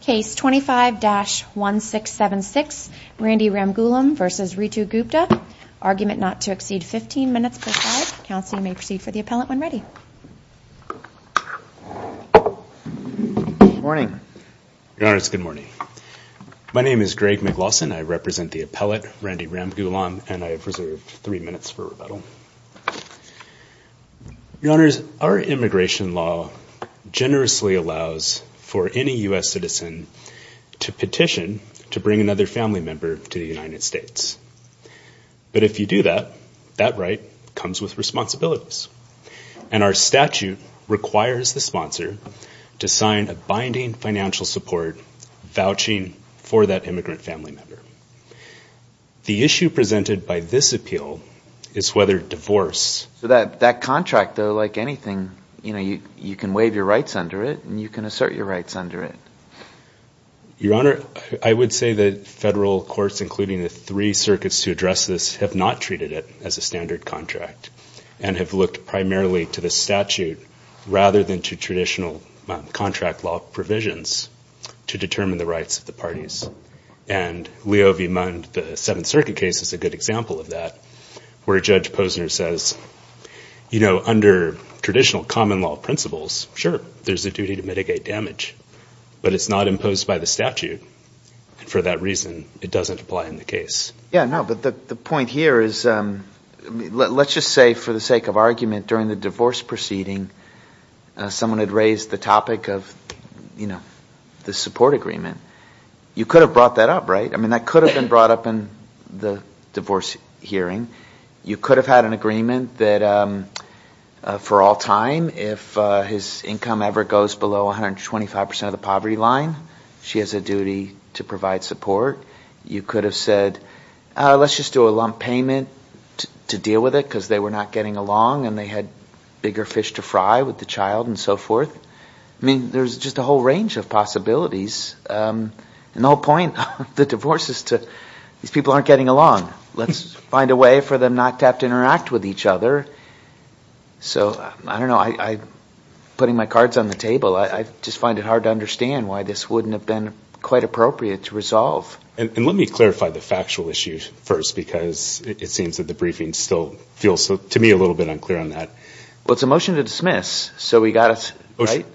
Case 25-1676. Randy Ramgoolam v. Ritu Gupta. Argument not to exceed 15 minutes per side. Counsel, you may proceed for the appellant when ready. Morning. Good morning. My name is Greg McLawson. I represent the appellate, Randy Ramgoolam, and I have reserved three minutes for rebuttal. Your Honors, our immigration law generously allows for any U.S. citizen to petition to bring another family member to the United States. But if you do that, that right comes with responsibilities. And our statute requires the sponsor to sign a binding financial support vouching for that immigrant family member. The issue presented by this appeal is whether divorce... So that contract, though, like anything, you know, you can waive your rights under it and you can assert your rights under it. Your Honor, I would say that federal courts, including the three circuits to address this, have not treated it as a standard contract and have looked primarily to the statute rather than to traditional contract law provisions to determine the rights of the parties. And Leo v. Mund, the Seventh Circuit case, is a good example of that, where Judge Posner says, you know, under traditional common law principles, sure, there's a duty to mitigate damage, but it's not imposed by the statute. For that reason, it doesn't apply in the case. Yeah, no, but the point here is, let's just say for the sake of argument, during the divorce proceeding, someone had raised the topic of, you know, the support agreement. You could have brought that up, right? I mean, that could have been brought up in the divorce hearing. You could have had an agreement that for all time, if his income ever goes below 125% of the poverty line, she has a duty to provide support. You could have said, let's just do a lump payment to deal with it because they were not getting along and they had bigger fish to fry with the child and so forth. I mean, there's just a whole range of possibilities. And the whole point of the divorce is to, these people aren't getting along. Let's find a way for them not to have to interact with each other. So, I don't know, I'm putting my cards on the table. I just find it hard to understand why this wouldn't have been quite appropriate to resolve. And let me clarify the factual issues first, because it seems that the briefing still feels, to me, a little bit unclear on that. Well, it's a motion to dismiss, so we got to, right?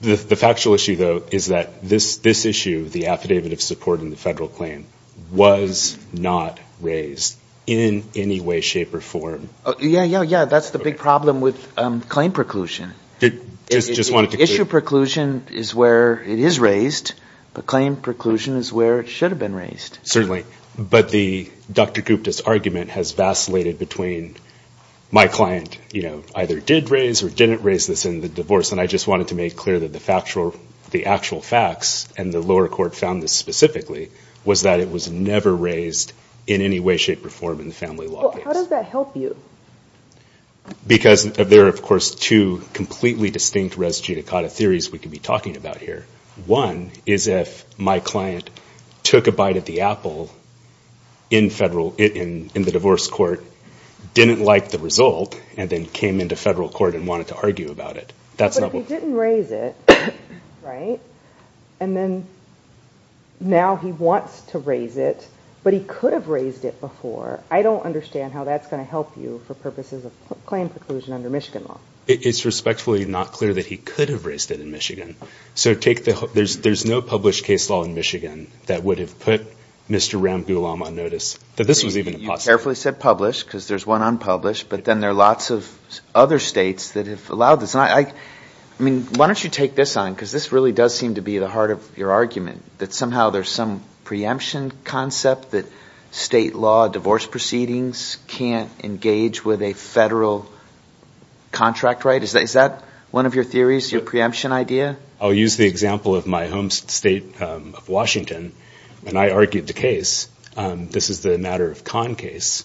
The factual issue, though, is that this issue, the affidavit of support in the federal claim, was not raised in any way, shape, or form. Yeah, yeah, yeah. That's the big problem with claim preclusion. Issue preclusion is where it is raised, but claim preclusion is where it should have been raised. Certainly. But the Dr. Gupta's argument has vacillated between my client either did raise or didn't raise this in the divorce. And I just wanted to make clear that the actual facts, and the lower court found this specifically, was that it was never raised in any way, shape, or form in the family law case. Well, how does that help you? Because there are, of course, two completely distinct res judicata theories we could be using. One is that the couple in the divorce court didn't like the result, and then came into federal court and wanted to argue about it. But if he didn't raise it, right, and then now he wants to raise it, but he could have raised it before, I don't understand how that's going to help you for purposes of claim preclusion under Michigan law. It's respectfully not clear that he could have raised it in Michigan. So there's no published case law in Michigan that would have put Mr. Ram Gulam on notice that this was even possible. You carefully said published, because there's one unpublished, but then there are lots of other states that have allowed this. Why don't you take this on, because this really does seem to be the heart of your argument, that somehow there's some preemption concept that state law divorce proceedings can't engage with a federal contract, right? Is that one of your theories, your preemption idea? I'll use the example of my home state of Washington, and I argued the case. This is the Matter of Khan case.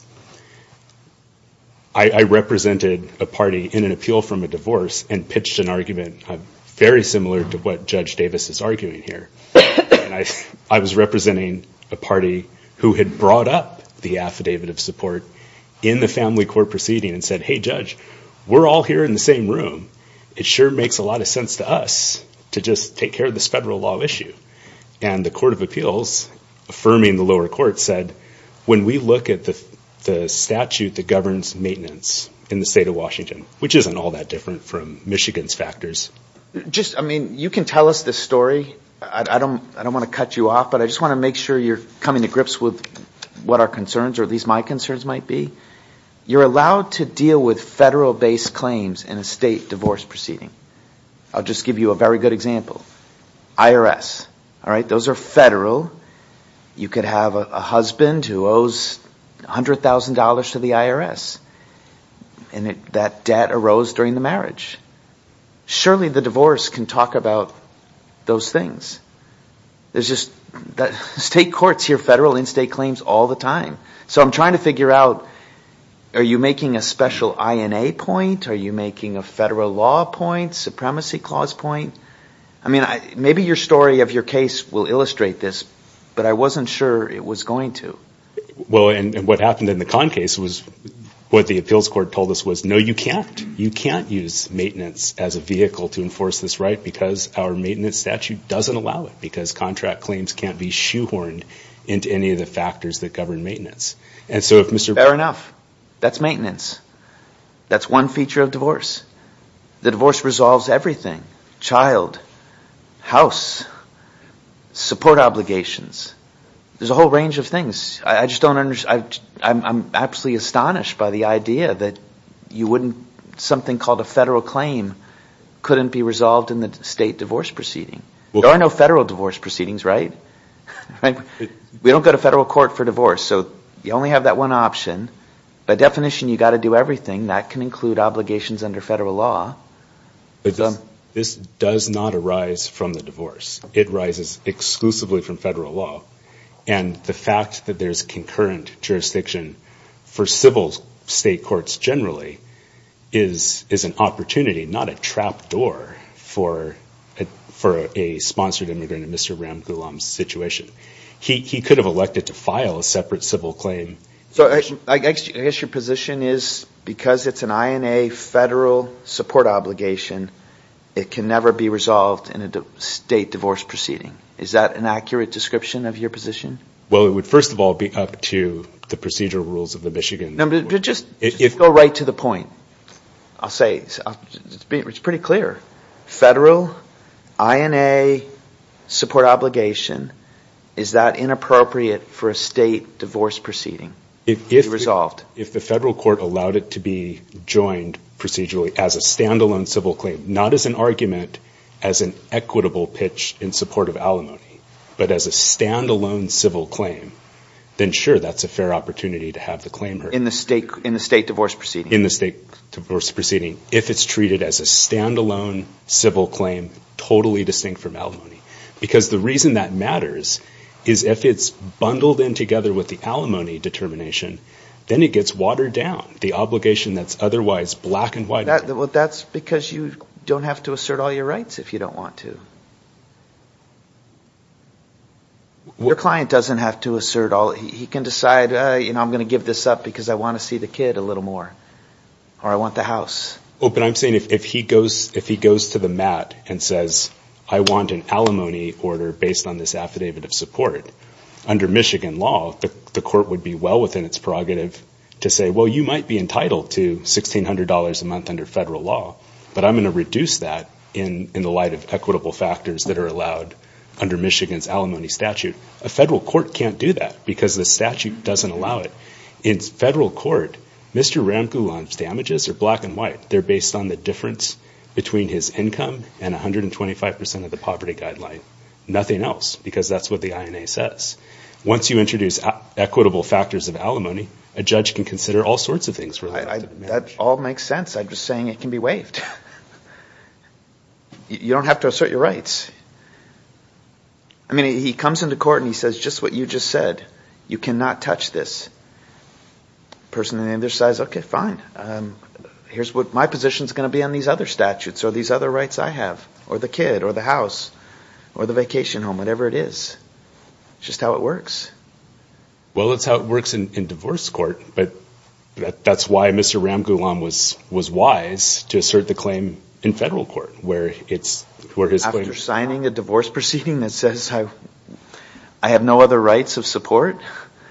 I represented a party in an appeal from a divorce and pitched an argument very similar to what Judge Davis is arguing here. I was representing a party who had brought up the affidavit of support in the family court proceeding and said, hey, Judge, we're all here in the same room. It sure makes a lot of sense to us to just take care of this federal law issue. And the Court of Appeals, affirming the lower court, said, when we look at the statute that governs maintenance in the state of Washington, which isn't all that different from Michigan's Just, I mean, you can tell us the story. I don't want to cut you off, but I just want to make sure you're coming to grips with what our concerns, or at least my concerns might be. You're allowed to deal with federal-based claims in a state divorce proceeding. I'll just give you a very good example. IRS, all right? Those are federal. You could have a husband who owes $100,000 to the IRS, and that debt arose during the Surely the divorce can talk about those things. There's just, state courts hear federal and state claims all the time. So I'm trying to figure out, are you making a special INA point? Are you making a federal law point? Supremacy clause point? I mean, maybe your story of your case will illustrate this, but I wasn't sure it was going to. Well, and what happened in the Conn case was what the appeals court told us was, no, you can't. You can't use maintenance as a vehicle to enforce this right, because our maintenance statute doesn't allow it, because contract claims can't be shoehorned into any of the And so if Mr. Fair enough. That's maintenance. That's one feature of divorce. The divorce resolves everything. Child, house, support obligations. There's a whole range of things. I'm absolutely astonished by the idea that something called a federal claim couldn't be resolved in the state divorce proceeding. There are no federal divorce proceedings, right? We don't go to federal court for divorce. So you only have that one option. By definition, you've got to do everything. That can include obligations under federal law. This does not arise from the divorce. It rises exclusively from federal law. And the fact that there's concurrent jurisdiction for civil state courts generally is an opportunity, not a trap door for a sponsored immigrant in Mr. Ramgoolam's situation. He could have elected to file a separate civil claim. So I guess your position is because it's an INA federal support obligation, it can never be resolved in a state divorce proceeding. Is that an accurate description of your position? Well, it would, first of all, be up to the procedural rules of the Michigan. No, but just go right to the point. I'll say it's pretty clear. Federal INA support obligation. Is that inappropriate for a state divorce proceeding to be resolved? If the federal court allowed it to be joined procedurally as a standalone civil claim, not as an argument, as an equitable pitch in support of alimony, but as a standalone civil claim, then sure, that's a fair opportunity to have the claim heard. In the state divorce proceeding? In the state divorce proceeding. If it's treated as a standalone civil claim, totally distinct from alimony, because the reason that matters is if it's bundled in together with the alimony determination, then it gets watered down. The obligation that's otherwise black and white. That's because you don't have to assert all your rights if you don't want to. Your client doesn't have to assert all, he can decide, I'm going to give this up because I want to see the kid a little more, or I want the house. I'm saying if he goes to the mat and says, I want an alimony order based on this affidavit of support, under Michigan law, the court would be well within its prerogative to say, well, you might be entitled to $1,600 a month under federal law, but I'm going to reduce that in the light of equitable factors that are allowed under Michigan's alimony statute. A federal court can't do that because the statute doesn't allow it. In federal court, Mr. Ramgoolam's damages are black and white. They're based on the difference between his income and 125% of the poverty guideline, nothing else, because that's what the INA says. Once you introduce equitable factors of alimony, a judge can consider all sorts of things. That all makes sense. I'm just saying it can be waived. You don't have to assert your rights. He comes into court and he says, just what you just said, you cannot touch this. The person on the other side says, okay, fine. My position is going to be on these other statutes or these other rights I have, or the kid, or the house, or the vacation home, whatever it is. It's just how it works. Well, it's how it works in divorce court, but that's why Mr. Ramgoolam was wise to assert the claim in federal court, where his claim... After signing a divorce proceeding that says I have no other rights of support...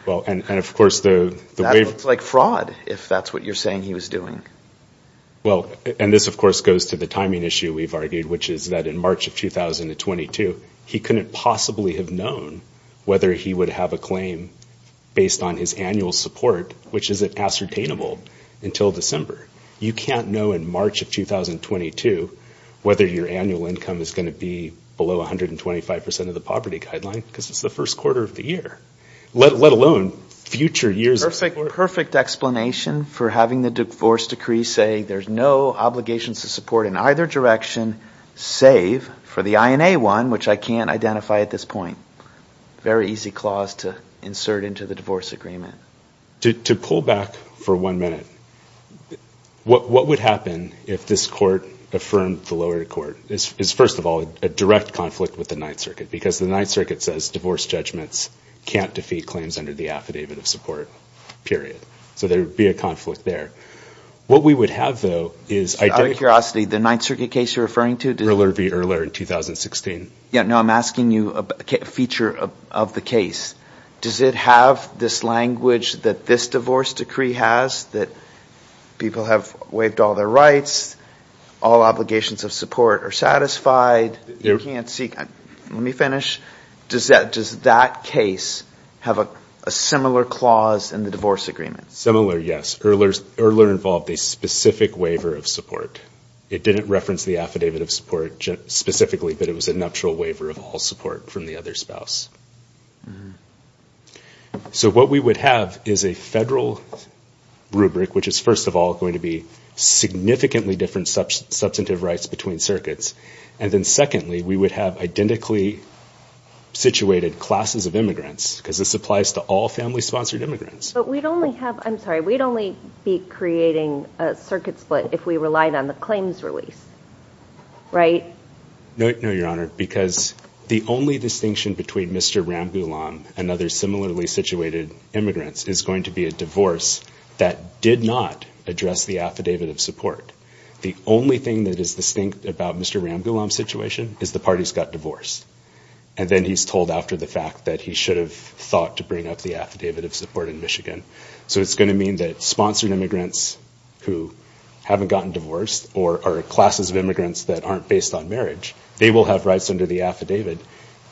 Well, and of course the... That looks like fraud, if that's what you're saying he was doing. Well, and this of course goes to the timing issue we've argued, which is that in March of 2022, he couldn't possibly have known whether he would have a claim based on his annual support, which isn't ascertainable until December. You can't know in March of 2022 whether your annual income is going to be below 125% of the poverty guideline, because it's the first quarter of the year. Let alone future years... Perfect explanation for having the divorce decree say there's no obligations to support in either direction, save for the INA one, which I can't identify at this point. Very easy clause to insert into the divorce agreement. To pull back for one minute, what would happen if this court affirmed the lower court? This is, first of all, a direct conflict with the Ninth Circuit, because the Ninth Circuit says divorce judgments can't defeat claims under the affidavit of support, period. So there would be a conflict there. What we would have, though, is... Out of curiosity, the Ninth Circuit case you're referring to... Earler v. Earler in 2016. No, I'm asking you a feature of the case. Does it have this language that this divorce decree has, that people have waived all their rights, all obligations of support are satisfied, you can't seek... Let me finish. Does that case have a similar clause in the divorce agreement? Similar, yes. Earler involved a specific waiver of support. It didn't reference the affidavit of support specifically, but it was a nuptial waiver of all support from the other spouse. So what we would have is a federal rubric, which is, first of all, going to be significantly different substantive rights between circuits. And then secondly, we would have identically situated classes of immigrants, because this applies to all family-sponsored immigrants. But we'd only have... I'm sorry. We'd only be creating a circuit split if we relied on the claims release, right? No, Your Honor, because the only distinction between Mr. Ramboulon and other similarly situated immigrants is going to be a divorce that did not address the affidavit of support. The only thing that is distinct about Mr. Ramboulon's situation is the part he's got divorced. And then he's told after the fact that he should have thought to bring up the affidavit of support in Michigan. So it's going to mean that sponsored immigrants who haven't gotten divorced or are classes of immigrants that aren't based on marriage, they will have rights under the affidavit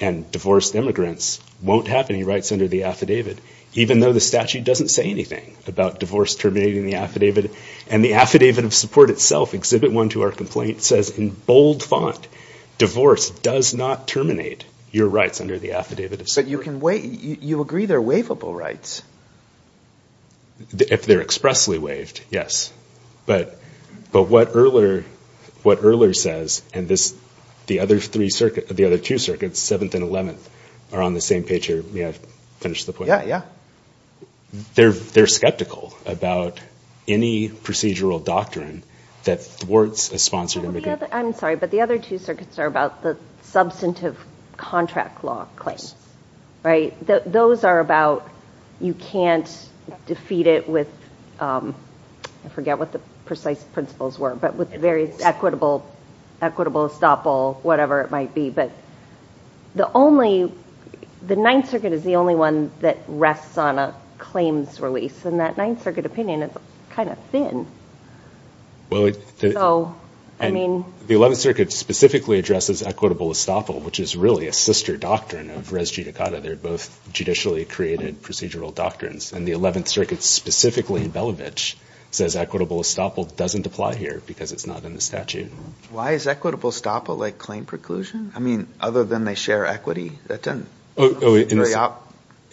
and divorced immigrants won't have any rights under the affidavit, even though the statute doesn't say anything about divorce terminating the affidavit. And the affidavit of support itself, Exhibit 1 to our complaint, says in bold font, divorce does not terminate your rights under the affidavit of support. But you agree they're waivable rights. If they're expressly waived, yes. But what Earler says and the other two circuits, Seventh and Eleventh, are on the same page here. May I finish the point? Yeah, yeah. They're skeptical about any procedural doctrine that thwarts a sponsored immigrant. I'm sorry, but the other two circuits are about the substantive contract law claims, right? Those are about, you can't defeat it with, I forget what the precise principles were, but with various equitable estoppel, whatever it might be. The Ninth Circuit is the only one that rests on a claims release. And that Ninth Circuit opinion is kind of thin. The Eleventh Circuit specifically addresses equitable estoppel, which is really a sister doctrine of res judicata. They're both judicially created procedural doctrines. And the Eleventh Circuit, specifically in Belovich, says equitable estoppel doesn't apply here because it's not in the statute. Why is equitable estoppel like claim preclusion? Other than they share equity? In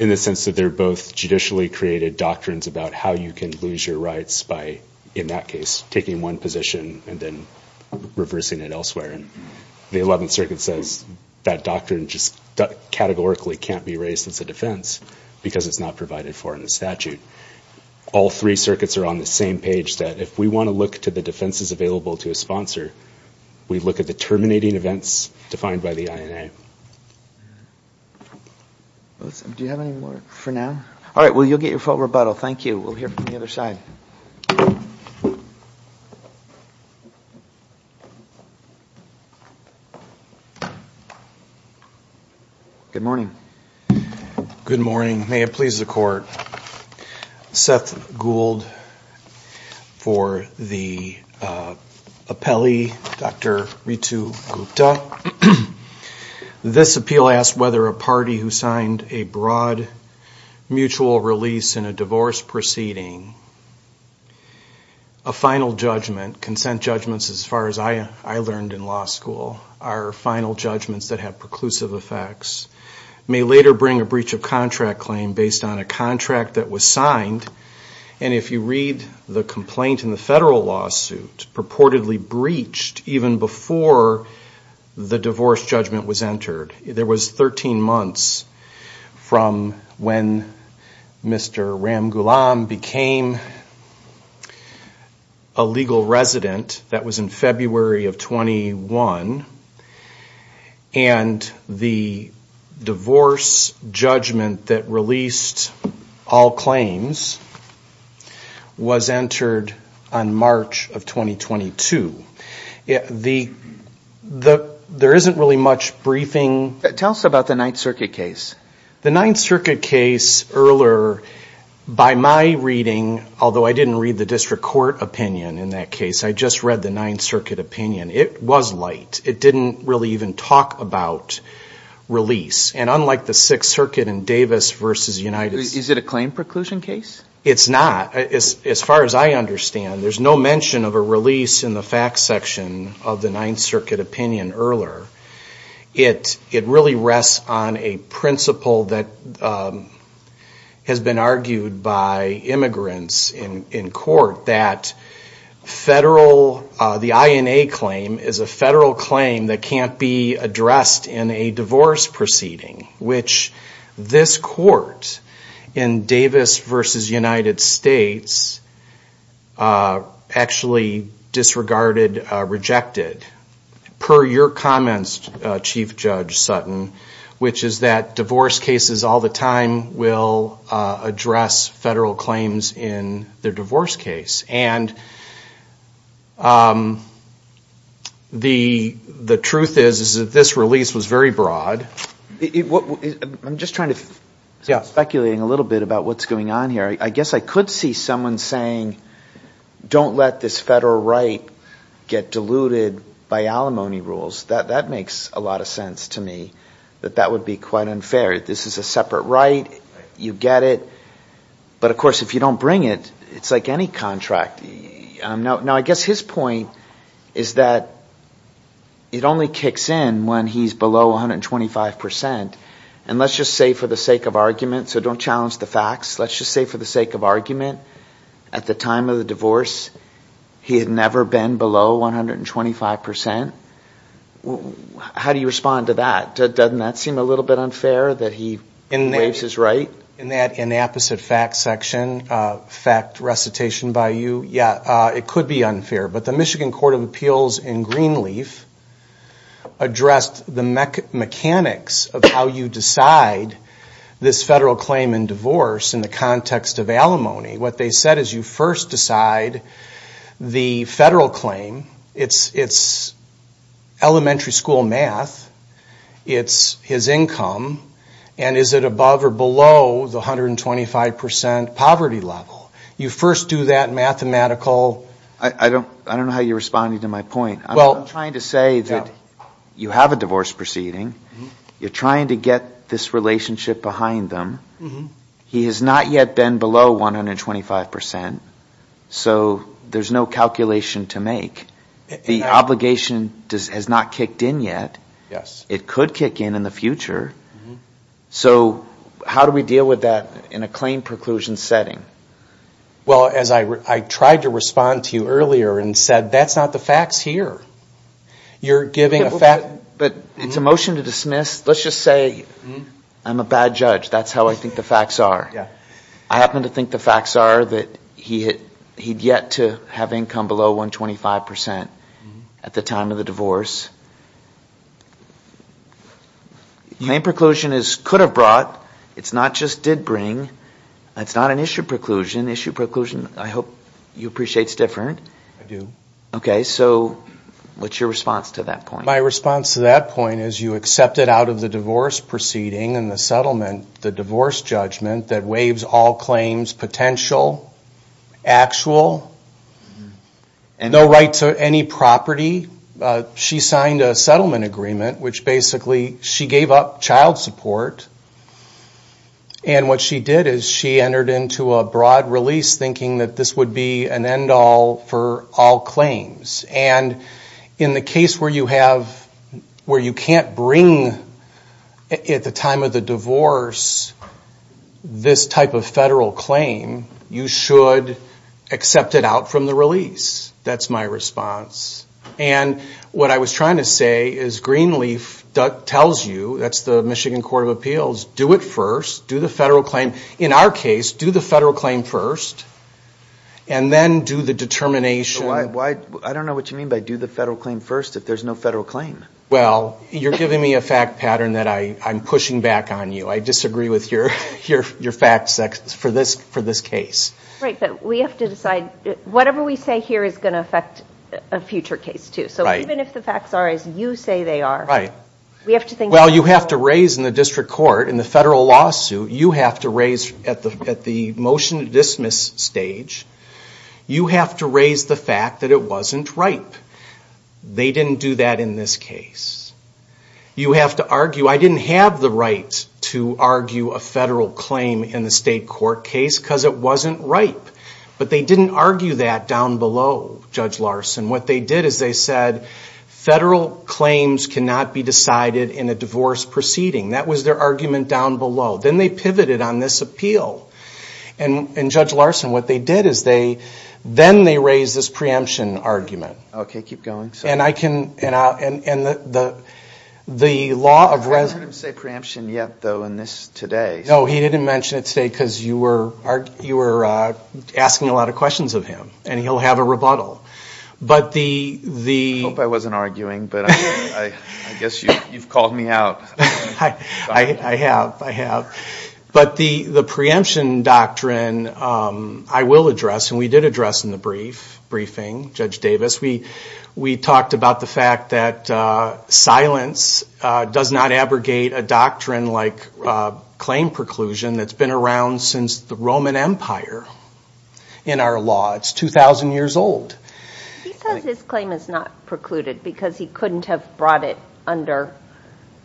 the sense that they're both judicially created doctrines about how you can lose your rights by, in that case, taking one position and then reversing it elsewhere. And the Eleventh Circuit says that doctrine just categorically can't be raised as a defense because it's not provided for in the statute. All three circuits are on the same page that if we want to look to the defenses available to a sponsor, we look at the terminating events defined by the INA. Do you have any more for now? All right. Well, you'll get your full rebuttal. Thank you. We'll hear from the other side. Good morning. Good morning. May it please the Court. Seth Gould for the appellee, Dr. Ritu Gupta. This appeal asks whether a party who signed a broad mutual release in a divorce proceeding, a final judgment, consent judgments as far as I learned in law school, are final judgments that have preclusive effects, may later bring a breach of contract claim based on a contract that was signed, and if you read the complaint in the federal lawsuit, purportedly breached even before the divorce judgment was entered. There was 13 months from when Mr. Ramgoolam became a legal resident. That was in February of 21. And the divorce judgment that released all claims was entered on March of 2022. There isn't really much briefing. Tell us about the Ninth Circuit case. The Ninth Circuit case earlier, by my reading, although I didn't read the district court opinion in that case, I just read the Ninth Circuit opinion, it was light. It didn't really even talk about release. And unlike the Sixth Circuit in Davis v. United... Is it a claim preclusion case? It's not, as far as I understand. There's no mention of a release in the facts section of the Ninth Circuit opinion earlier. It really rests on a principle that has been argued by immigrants in court that the INA claim is a federal claim that can't be addressed in a divorce proceeding, which this court in Davis v. United States actually disregarded, rejected. Per your comments, Chief Judge Sutton, which is that divorce cases all the time will address federal claims in their divorce case. And the truth is, is that this release was very broad. I'm just trying to speculate a little bit about what's going on here. I guess I could see someone saying, don't let this federal right get diluted by alimony rules. That makes a lot of sense to me, that that would be quite unfair. This is a separate right. You get it. But of course, if you don't bring it, it's like any contract. Now, I guess his point is that it only kicks in when he's below 125%. And let's just say for the sake of argument, so don't challenge the facts. Let's just say for the sake of argument, at the time of the divorce, he had never been below 125%. How do you respond to that? Doesn't that seem a little bit unfair that he waives his right? In that inapposite fact section, fact recitation by you, yeah, it could be unfair. But the Michigan Court of Appeals in Greenleaf addressed the mechanics of how you decide this federal claim in divorce in the context of alimony. What they said is you first decide the federal claim. It's elementary school math. It's his income. And is it above or below the 125% poverty level? You first do that mathematical. I don't know how you're responding to my point. I'm trying to say that you have a divorce proceeding. You're trying to get this relationship behind them. He has not yet been below 125%. So there's no calculation to make. The obligation has not kicked in yet. Yes. It could kick in in the future. So how do we deal with that in a claim preclusion setting? Well, as I tried to respond to you earlier and said, that's not the facts here. You're giving a fact... But it's a motion to dismiss. Let's just say I'm a bad judge. That's how I think the facts are. I happen to think the facts are that he'd yet to have income below 125% at the time of the divorce. Claim preclusion is could have brought. It's not just did bring. That's not an issue preclusion. Issue preclusion, I hope you appreciate, is different. I do. Okay. So what's your response to that point? My response to that point is you accept it out of the divorce proceeding and the settlement, the divorce judgment that waives all claims potential, actual, no right to any property. She signed a settlement agreement, which basically she gave up child support. And what she did is she entered into a broad release, thinking that this would be an end all for all claims. And in the case where you can't bring at the time of the divorce this type of federal claim, you should accept it out from the release. That's my response. And what I was trying to say is Greenleaf tells you, that's the Michigan Court of Appeals, do it first, do the federal claim. In our case, do the federal claim first and then do the determination. So why, I don't know what you mean by do the federal claim first if there's no federal claim. Well, you're giving me a fact pattern that I'm pushing back on you. I disagree with your facts for this case. Right, but we have to decide, whatever we say here is going to affect a future case too. So even if the facts are as you say they are, we have to think- Well, you have to raise in the district court, in the federal lawsuit, you have to raise at the motion to dismiss stage, you have to raise the fact that it wasn't right. They didn't do that in this case. You have to argue, I didn't have the right to argue a federal claim in the state court case because it wasn't right. But they didn't argue that down below, Judge Larson. What they did is they said, federal claims cannot be decided in a divorce proceeding. That was their argument down below. Then they pivoted on this appeal. And Judge Larson, what they did is they, then they raised this preemption argument. Okay, keep going. And I can, and the law of- I haven't heard him say preemption yet though in this today. No, he didn't mention it today because you were asking a lot of questions of him. And he'll have a rebuttal. But the- I hope I wasn't arguing, but I guess you've called me out. I have, I have. But the preemption doctrine, I will address, and we did address in the brief, briefing, Judge Davis, we talked about the fact that silence does not abrogate a doctrine like claim preclusion that's been around since the Roman Empire in our law. It's 2,000 years old. He says his claim is not precluded because he couldn't have brought it under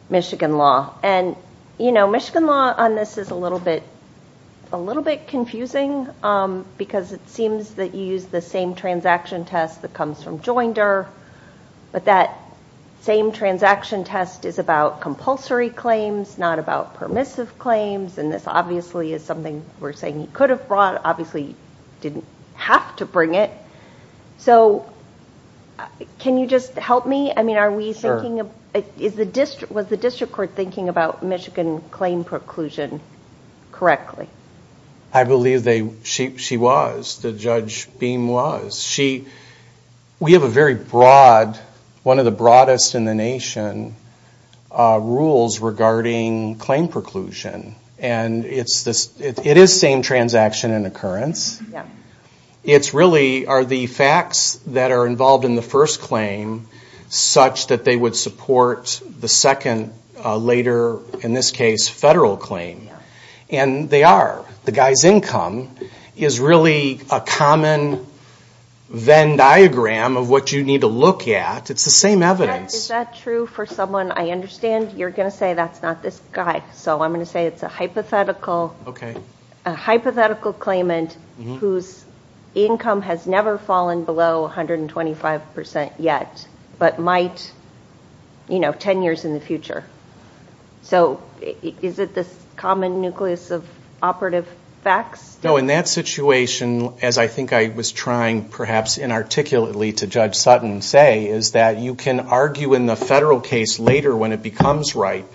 Michigan law. And, you know, Michigan law on this is a little bit, a little bit confusing because it seems that you use the same transaction test that comes from Joinder. But that same transaction test is about compulsory claims, not about permissive claims. And this obviously is something we're saying he could have brought. Obviously, he didn't have to bring it. So can you just help me? I mean, are we thinking of, is the district, was the district court thinking about Michigan claim preclusion correctly? I believe they, she, she was. The Judge Beam was. She, we have a very broad, one of the broadest in the nation rules regarding claim preclusion. And it's this, it is same transaction and occurrence. It's really, are the facts that are involved in the first claim such that they would support the second later, in this case, federal claim? And they are. The guy's income is really a common Venn diagram of what you need to look at. It's the same evidence. Is that true for someone? I understand you're going to say that's not this guy. So I'm going to say it's a hypothetical. Okay. A hypothetical claimant whose income has never fallen below 125% yet, but might, you know, 10 years in the future. So is it this common nucleus of operative facts? No, in that situation, as I think I was trying perhaps inarticulately to Judge Sutton say, is that you can argue in the federal case later when it becomes ripe,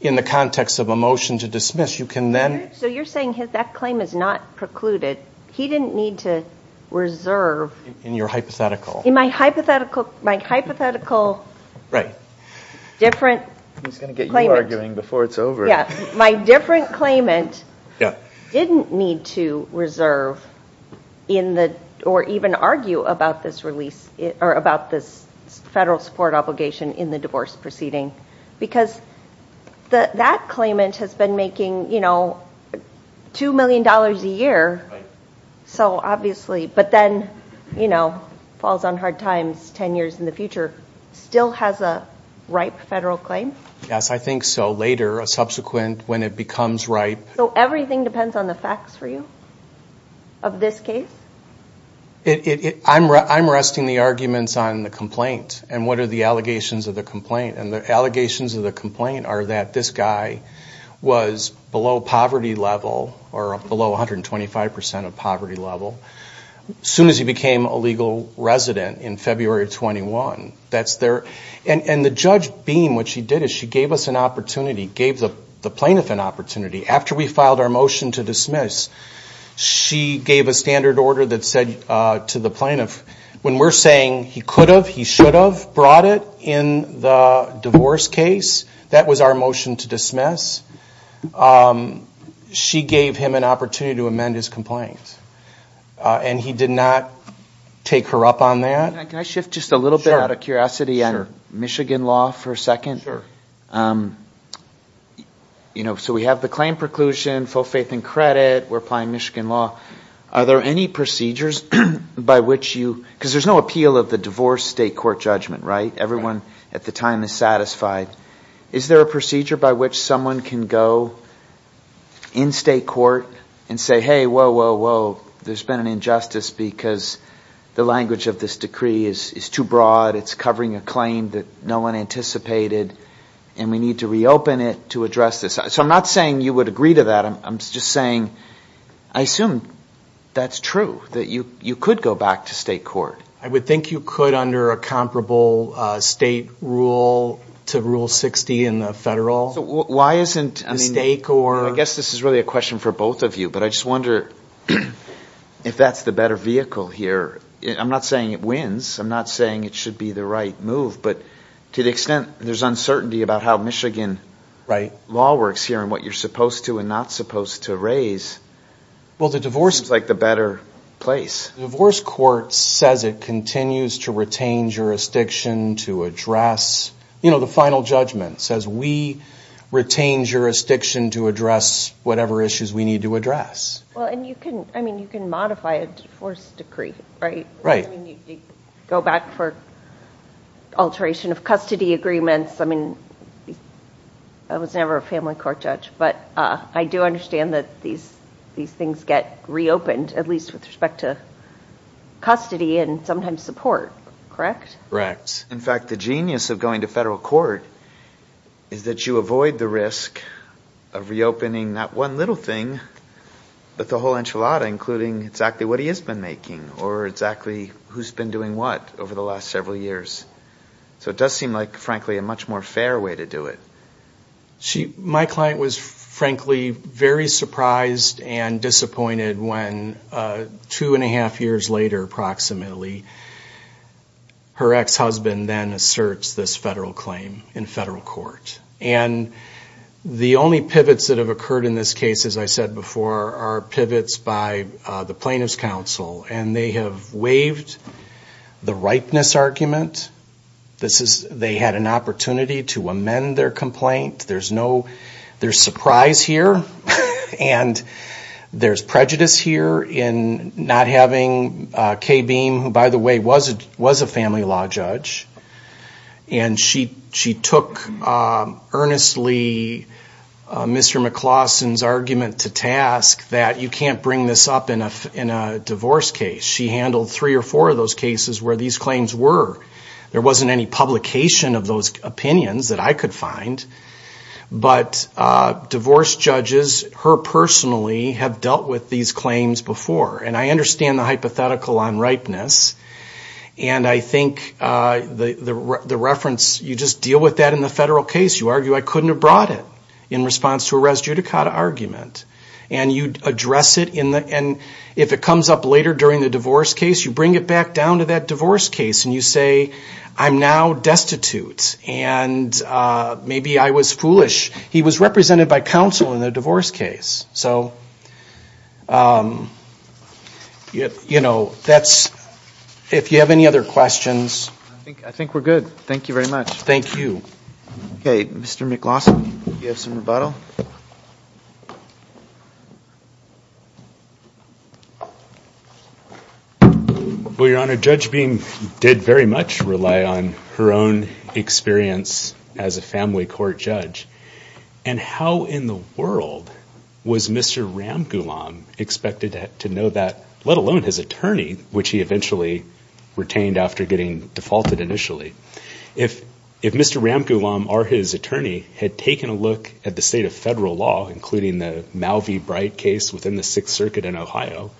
in the context of a motion to dismiss, you can then. So you're saying his, that claim is not precluded. He didn't need to reserve. In your hypothetical. In my hypothetical, my hypothetical. Right. Different. He's going to get you arguing before it's over. My different claimant didn't need to reserve in the, or even argue about this release, or about this federal support obligation in the divorce proceeding. Because that claimant has been making, you know, $2 million a year. So obviously, but then, you know, falls on hard times 10 years in the future, still has a ripe federal claim. Yes, I think so. Later, a subsequent, when it becomes ripe. So everything depends on the facts for you of this case? I'm resting the arguments on the complaint. And what are the allegations of the complaint? And the allegations of the complaint are that this guy was below poverty level, or below 125% of poverty level, soon as he became a legal resident in February of 21. That's their, and the judge beam, what she did is she gave us an opportunity, gave the plaintiff an opportunity. After we filed our motion to dismiss, she gave a standard order that said to the plaintiff, when we're saying he could have, he should have brought it in the divorce case, that was our motion to dismiss. She gave him an opportunity to amend his complaint. And he did not take her up on that. Can I shift just a little bit out of curiosity on Michigan law for a second? So we have the claim preclusion, full faith and credit. We're applying Michigan law. Are there any procedures by which you, because there's no appeal of the divorce state court judgment, right? Everyone at the time is satisfied. Is there a procedure by which someone can go in state court and say, whoa, whoa, whoa. There's been an injustice because the language of this decree is too broad. It's covering a claim that no one anticipated. And we need to reopen it to address this. So I'm not saying you would agree to that. I'm just saying, I assume that's true, that you could go back to state court. I would think you could under a comparable state rule to rule 60 in the federal. So why isn't, I mean, I guess this is really a question for both of you, but I just wonder if that's the better vehicle here. I'm not saying it wins. I'm not saying it should be the right move, but to the extent there's uncertainty about how Michigan law works here and what you're supposed to and not supposed to raise. Well, the divorce court is like the better place. Divorce court says it continues to retain jurisdiction to address, you know, the final judgment says we retain jurisdiction to address whatever issues we need to address. Well, and you can, I mean, you can modify a divorce decree, right? Right. I mean, you go back for alteration of custody agreements. I mean, I was never a family court judge, but I do understand that these things get reopened, at least with respect to custody and sometimes support, correct? Correct. In fact, the genius of going to federal court is that you avoid the risk of reopening that one little thing, but the whole enchilada, including exactly what he has been making or exactly who's been doing what over the last several years. So it does seem like, frankly, a much more fair way to do it. My client was frankly very surprised and disappointed when two and a half years later, approximately, her ex-husband then asserts this federal claim in federal court. And the only pivots that have occurred in this case, as I said before, are pivots by the plaintiff's counsel. And they have waived the ripeness argument. This is, they had an opportunity to amend their complaint. There's no, there's surprise here and there's prejudice here in not having Kay Beam, who, by the way, was a family law judge. And she took earnestly Mr. McLaughlin's argument to task that you can't bring this up in a divorce case. She handled three or four of those cases where these claims were. There wasn't any publication of those opinions that I could find. But divorce judges, her personally, have dealt with these claims before and I understand the hypothetical on ripeness. And I think the reference, you just deal with that in the federal case. You argue, I couldn't have brought it in response to a res judicata argument. And you address it in the, and if it comes up later during the divorce case, you bring it back down to that divorce case. And you say, I'm now destitute. And maybe I was foolish. He was represented by counsel in the divorce case. So, you know, that's, if you have any other questions. I think we're good. Thank you very much. Thank you. Okay. Mr. McLaughlin, you have some rebuttal. Well, Your Honor, Judge Beam did very much rely on her own experience as a family court judge. And how in the world was Mr. Ramgoolam expected to know that, let alone his attorney, which he eventually retained after getting defaulted initially. If Mr. Ramgoolam or his attorney had taken a look at the state of federal law, including the Mal V. Bright case within the Sixth Circuit in Ohio,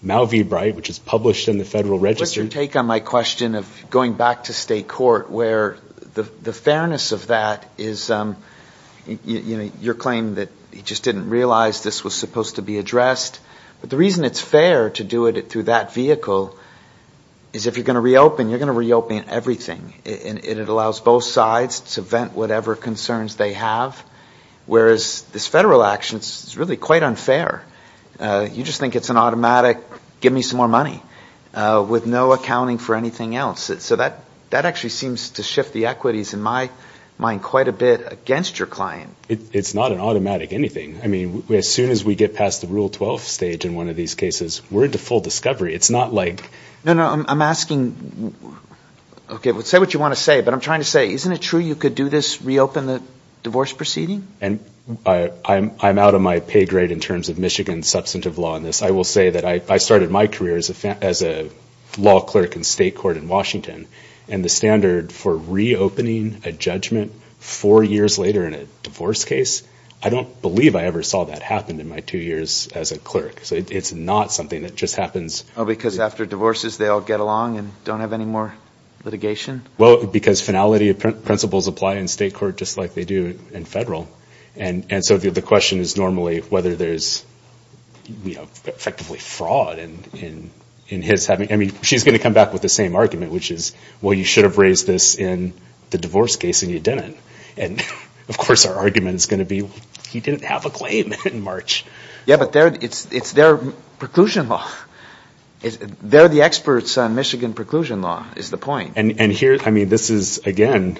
Mal V. Bright, which is published in the Federal Register. What's your take on my question of going back to state court where the fairness of that is, you know, your claim that he just didn't realize this was supposed to be addressed. But the reason it's fair to do it through that vehicle is if you're going to reopen, you're going to reopen everything. And it allows both sides to vent whatever concerns they have. Whereas this federal action, it's really quite unfair. You just think it's an automatic, give me some more money, with no accounting for anything else. So that actually seems to shift the equities in my mind quite a bit against your client. It's not an automatic anything. I mean, as soon as we get past the Rule 12 stage in one of these cases, we're into full discovery. It's not like... No, no, I'm asking... Okay, say what you want to say. But I'm trying to say, isn't it true you could do this, reopen the divorce proceeding? And I'm out of my pay grade in terms of Michigan substantive law in this. I will say that I started my career as a law clerk in state court in Washington. And the standard for reopening a judgment four years later in a divorce case, I don't believe I ever saw that happen in my two years as a clerk. So it's not something that just happens... Oh, because after divorces, they all get along and don't have any more litigation? Well, because finality of principles apply in state court just like they do in federal. And so the question is normally whether there's effectively fraud in his having... I mean, she's going to come back with the same argument, which is, well, you should have raised this in the divorce case and you didn't. And of course, our argument is going to be, he didn't have a claim in March. Yeah, but it's their preclusion law. They're the experts on Michigan preclusion law is the point. And here, I mean, this is, again,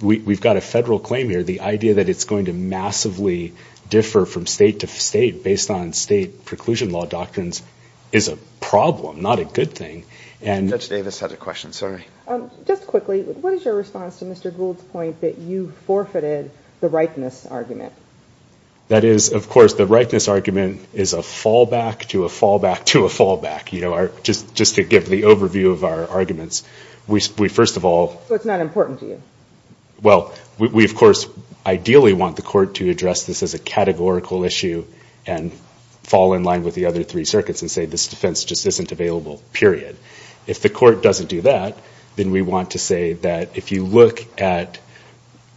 we've got a federal claim here. The idea that it's going to massively differ from state to state based on state preclusion law doctrines is a problem, not a good thing. Judge Davis had a question. Just quickly, what is your response to Mr. Gould's point that you forfeited the rightness argument? That is, of course, the rightness argument is a fallback to a fallback to a fallback. Just to give the overview of our arguments, we first of all... So it's not important to you? Well, we, of course, ideally want the court to address this as a categorical issue and fall in line with the other three circuits and say this defense just isn't available, period. If the court doesn't do that, then we want to say that if you look at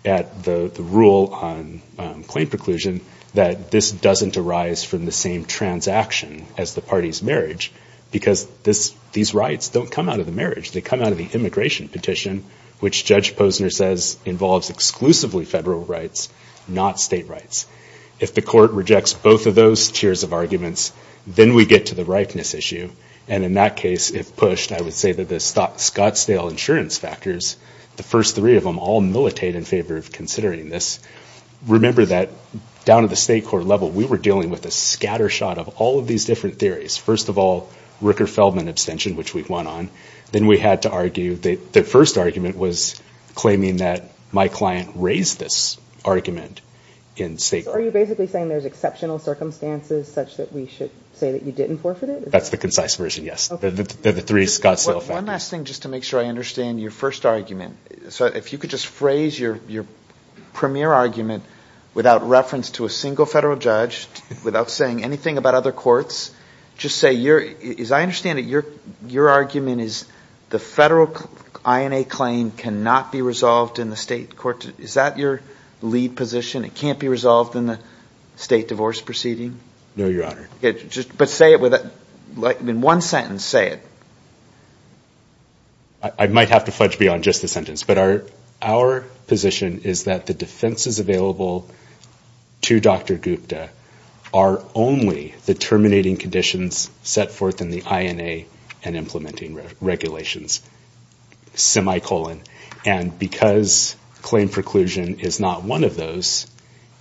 the rule on claim preclusion, that this doesn't arise from the same transaction as the party's marriage, because these rights don't come out of the marriage. They come out of the immigration petition, which Judge Posner says involves exclusively federal rights, not state rights. If the court rejects both of those tiers of arguments, then we get to the rightness issue. And in that case, if pushed, I would say that the Scottsdale insurance factors, the first three of them all militate in favor of considering this. Remember that down at the state court level, we were dealing with a scattershot of all of these different theories. First of all, Ricker-Feldman abstention, which we've won on. Then we had to argue that the first argument was claiming that my client raised this argument in state court. Are you basically saying there's exceptional circumstances such that we should say that you didn't forfeit it? That's the concise version, yes. One last thing, just to make sure I understand your first argument. So if you could just phrase your premier argument without reference to a single federal judge, without saying anything about other courts. Just say, as I understand it, your argument is the federal INA claim cannot be resolved in the state court. Is that your lead position? It can't be resolved in the state divorce proceeding? No, Your Honor. But say it in one sentence, say it. I might have to fudge beyond just the sentence. Our position is that the defenses available to Dr. Gupta are only the terminating conditions set forth in the INA and implementing regulations, semicolon. And because claim preclusion is not one of those,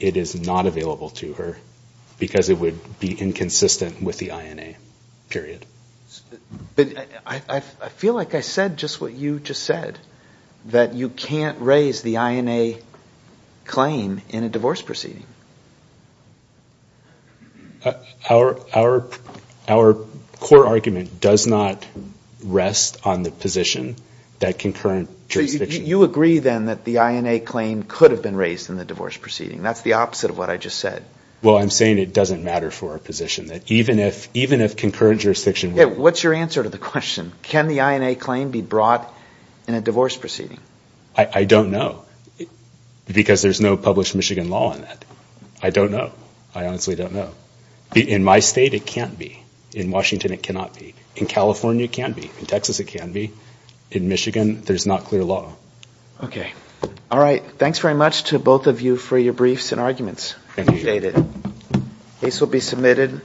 it is not available to her because it would be inconsistent with the INA, period. But I feel like I said just what you just said, that you can't raise the INA claim in a divorce proceeding. Our core argument does not rest on the position that concurrent jurisdiction... So you agree then that the INA claim could have been raised in the divorce proceeding. That's the opposite of what I just said. Well, I'm saying it doesn't matter for our position that even if concurrent jurisdiction... Yeah, what's your answer to the question? Can the INA claim be brought in a divorce proceeding? I don't know because there's no published Michigan law on that. I don't know. I honestly don't know. In my state, it can't be. In Washington, it cannot be. In California, it can be. In Texas, it can be. In Michigan, there's not clear law. Okay. All right. Thanks very much to both of you for your briefs and arguments. Appreciate it. Case will be submitted.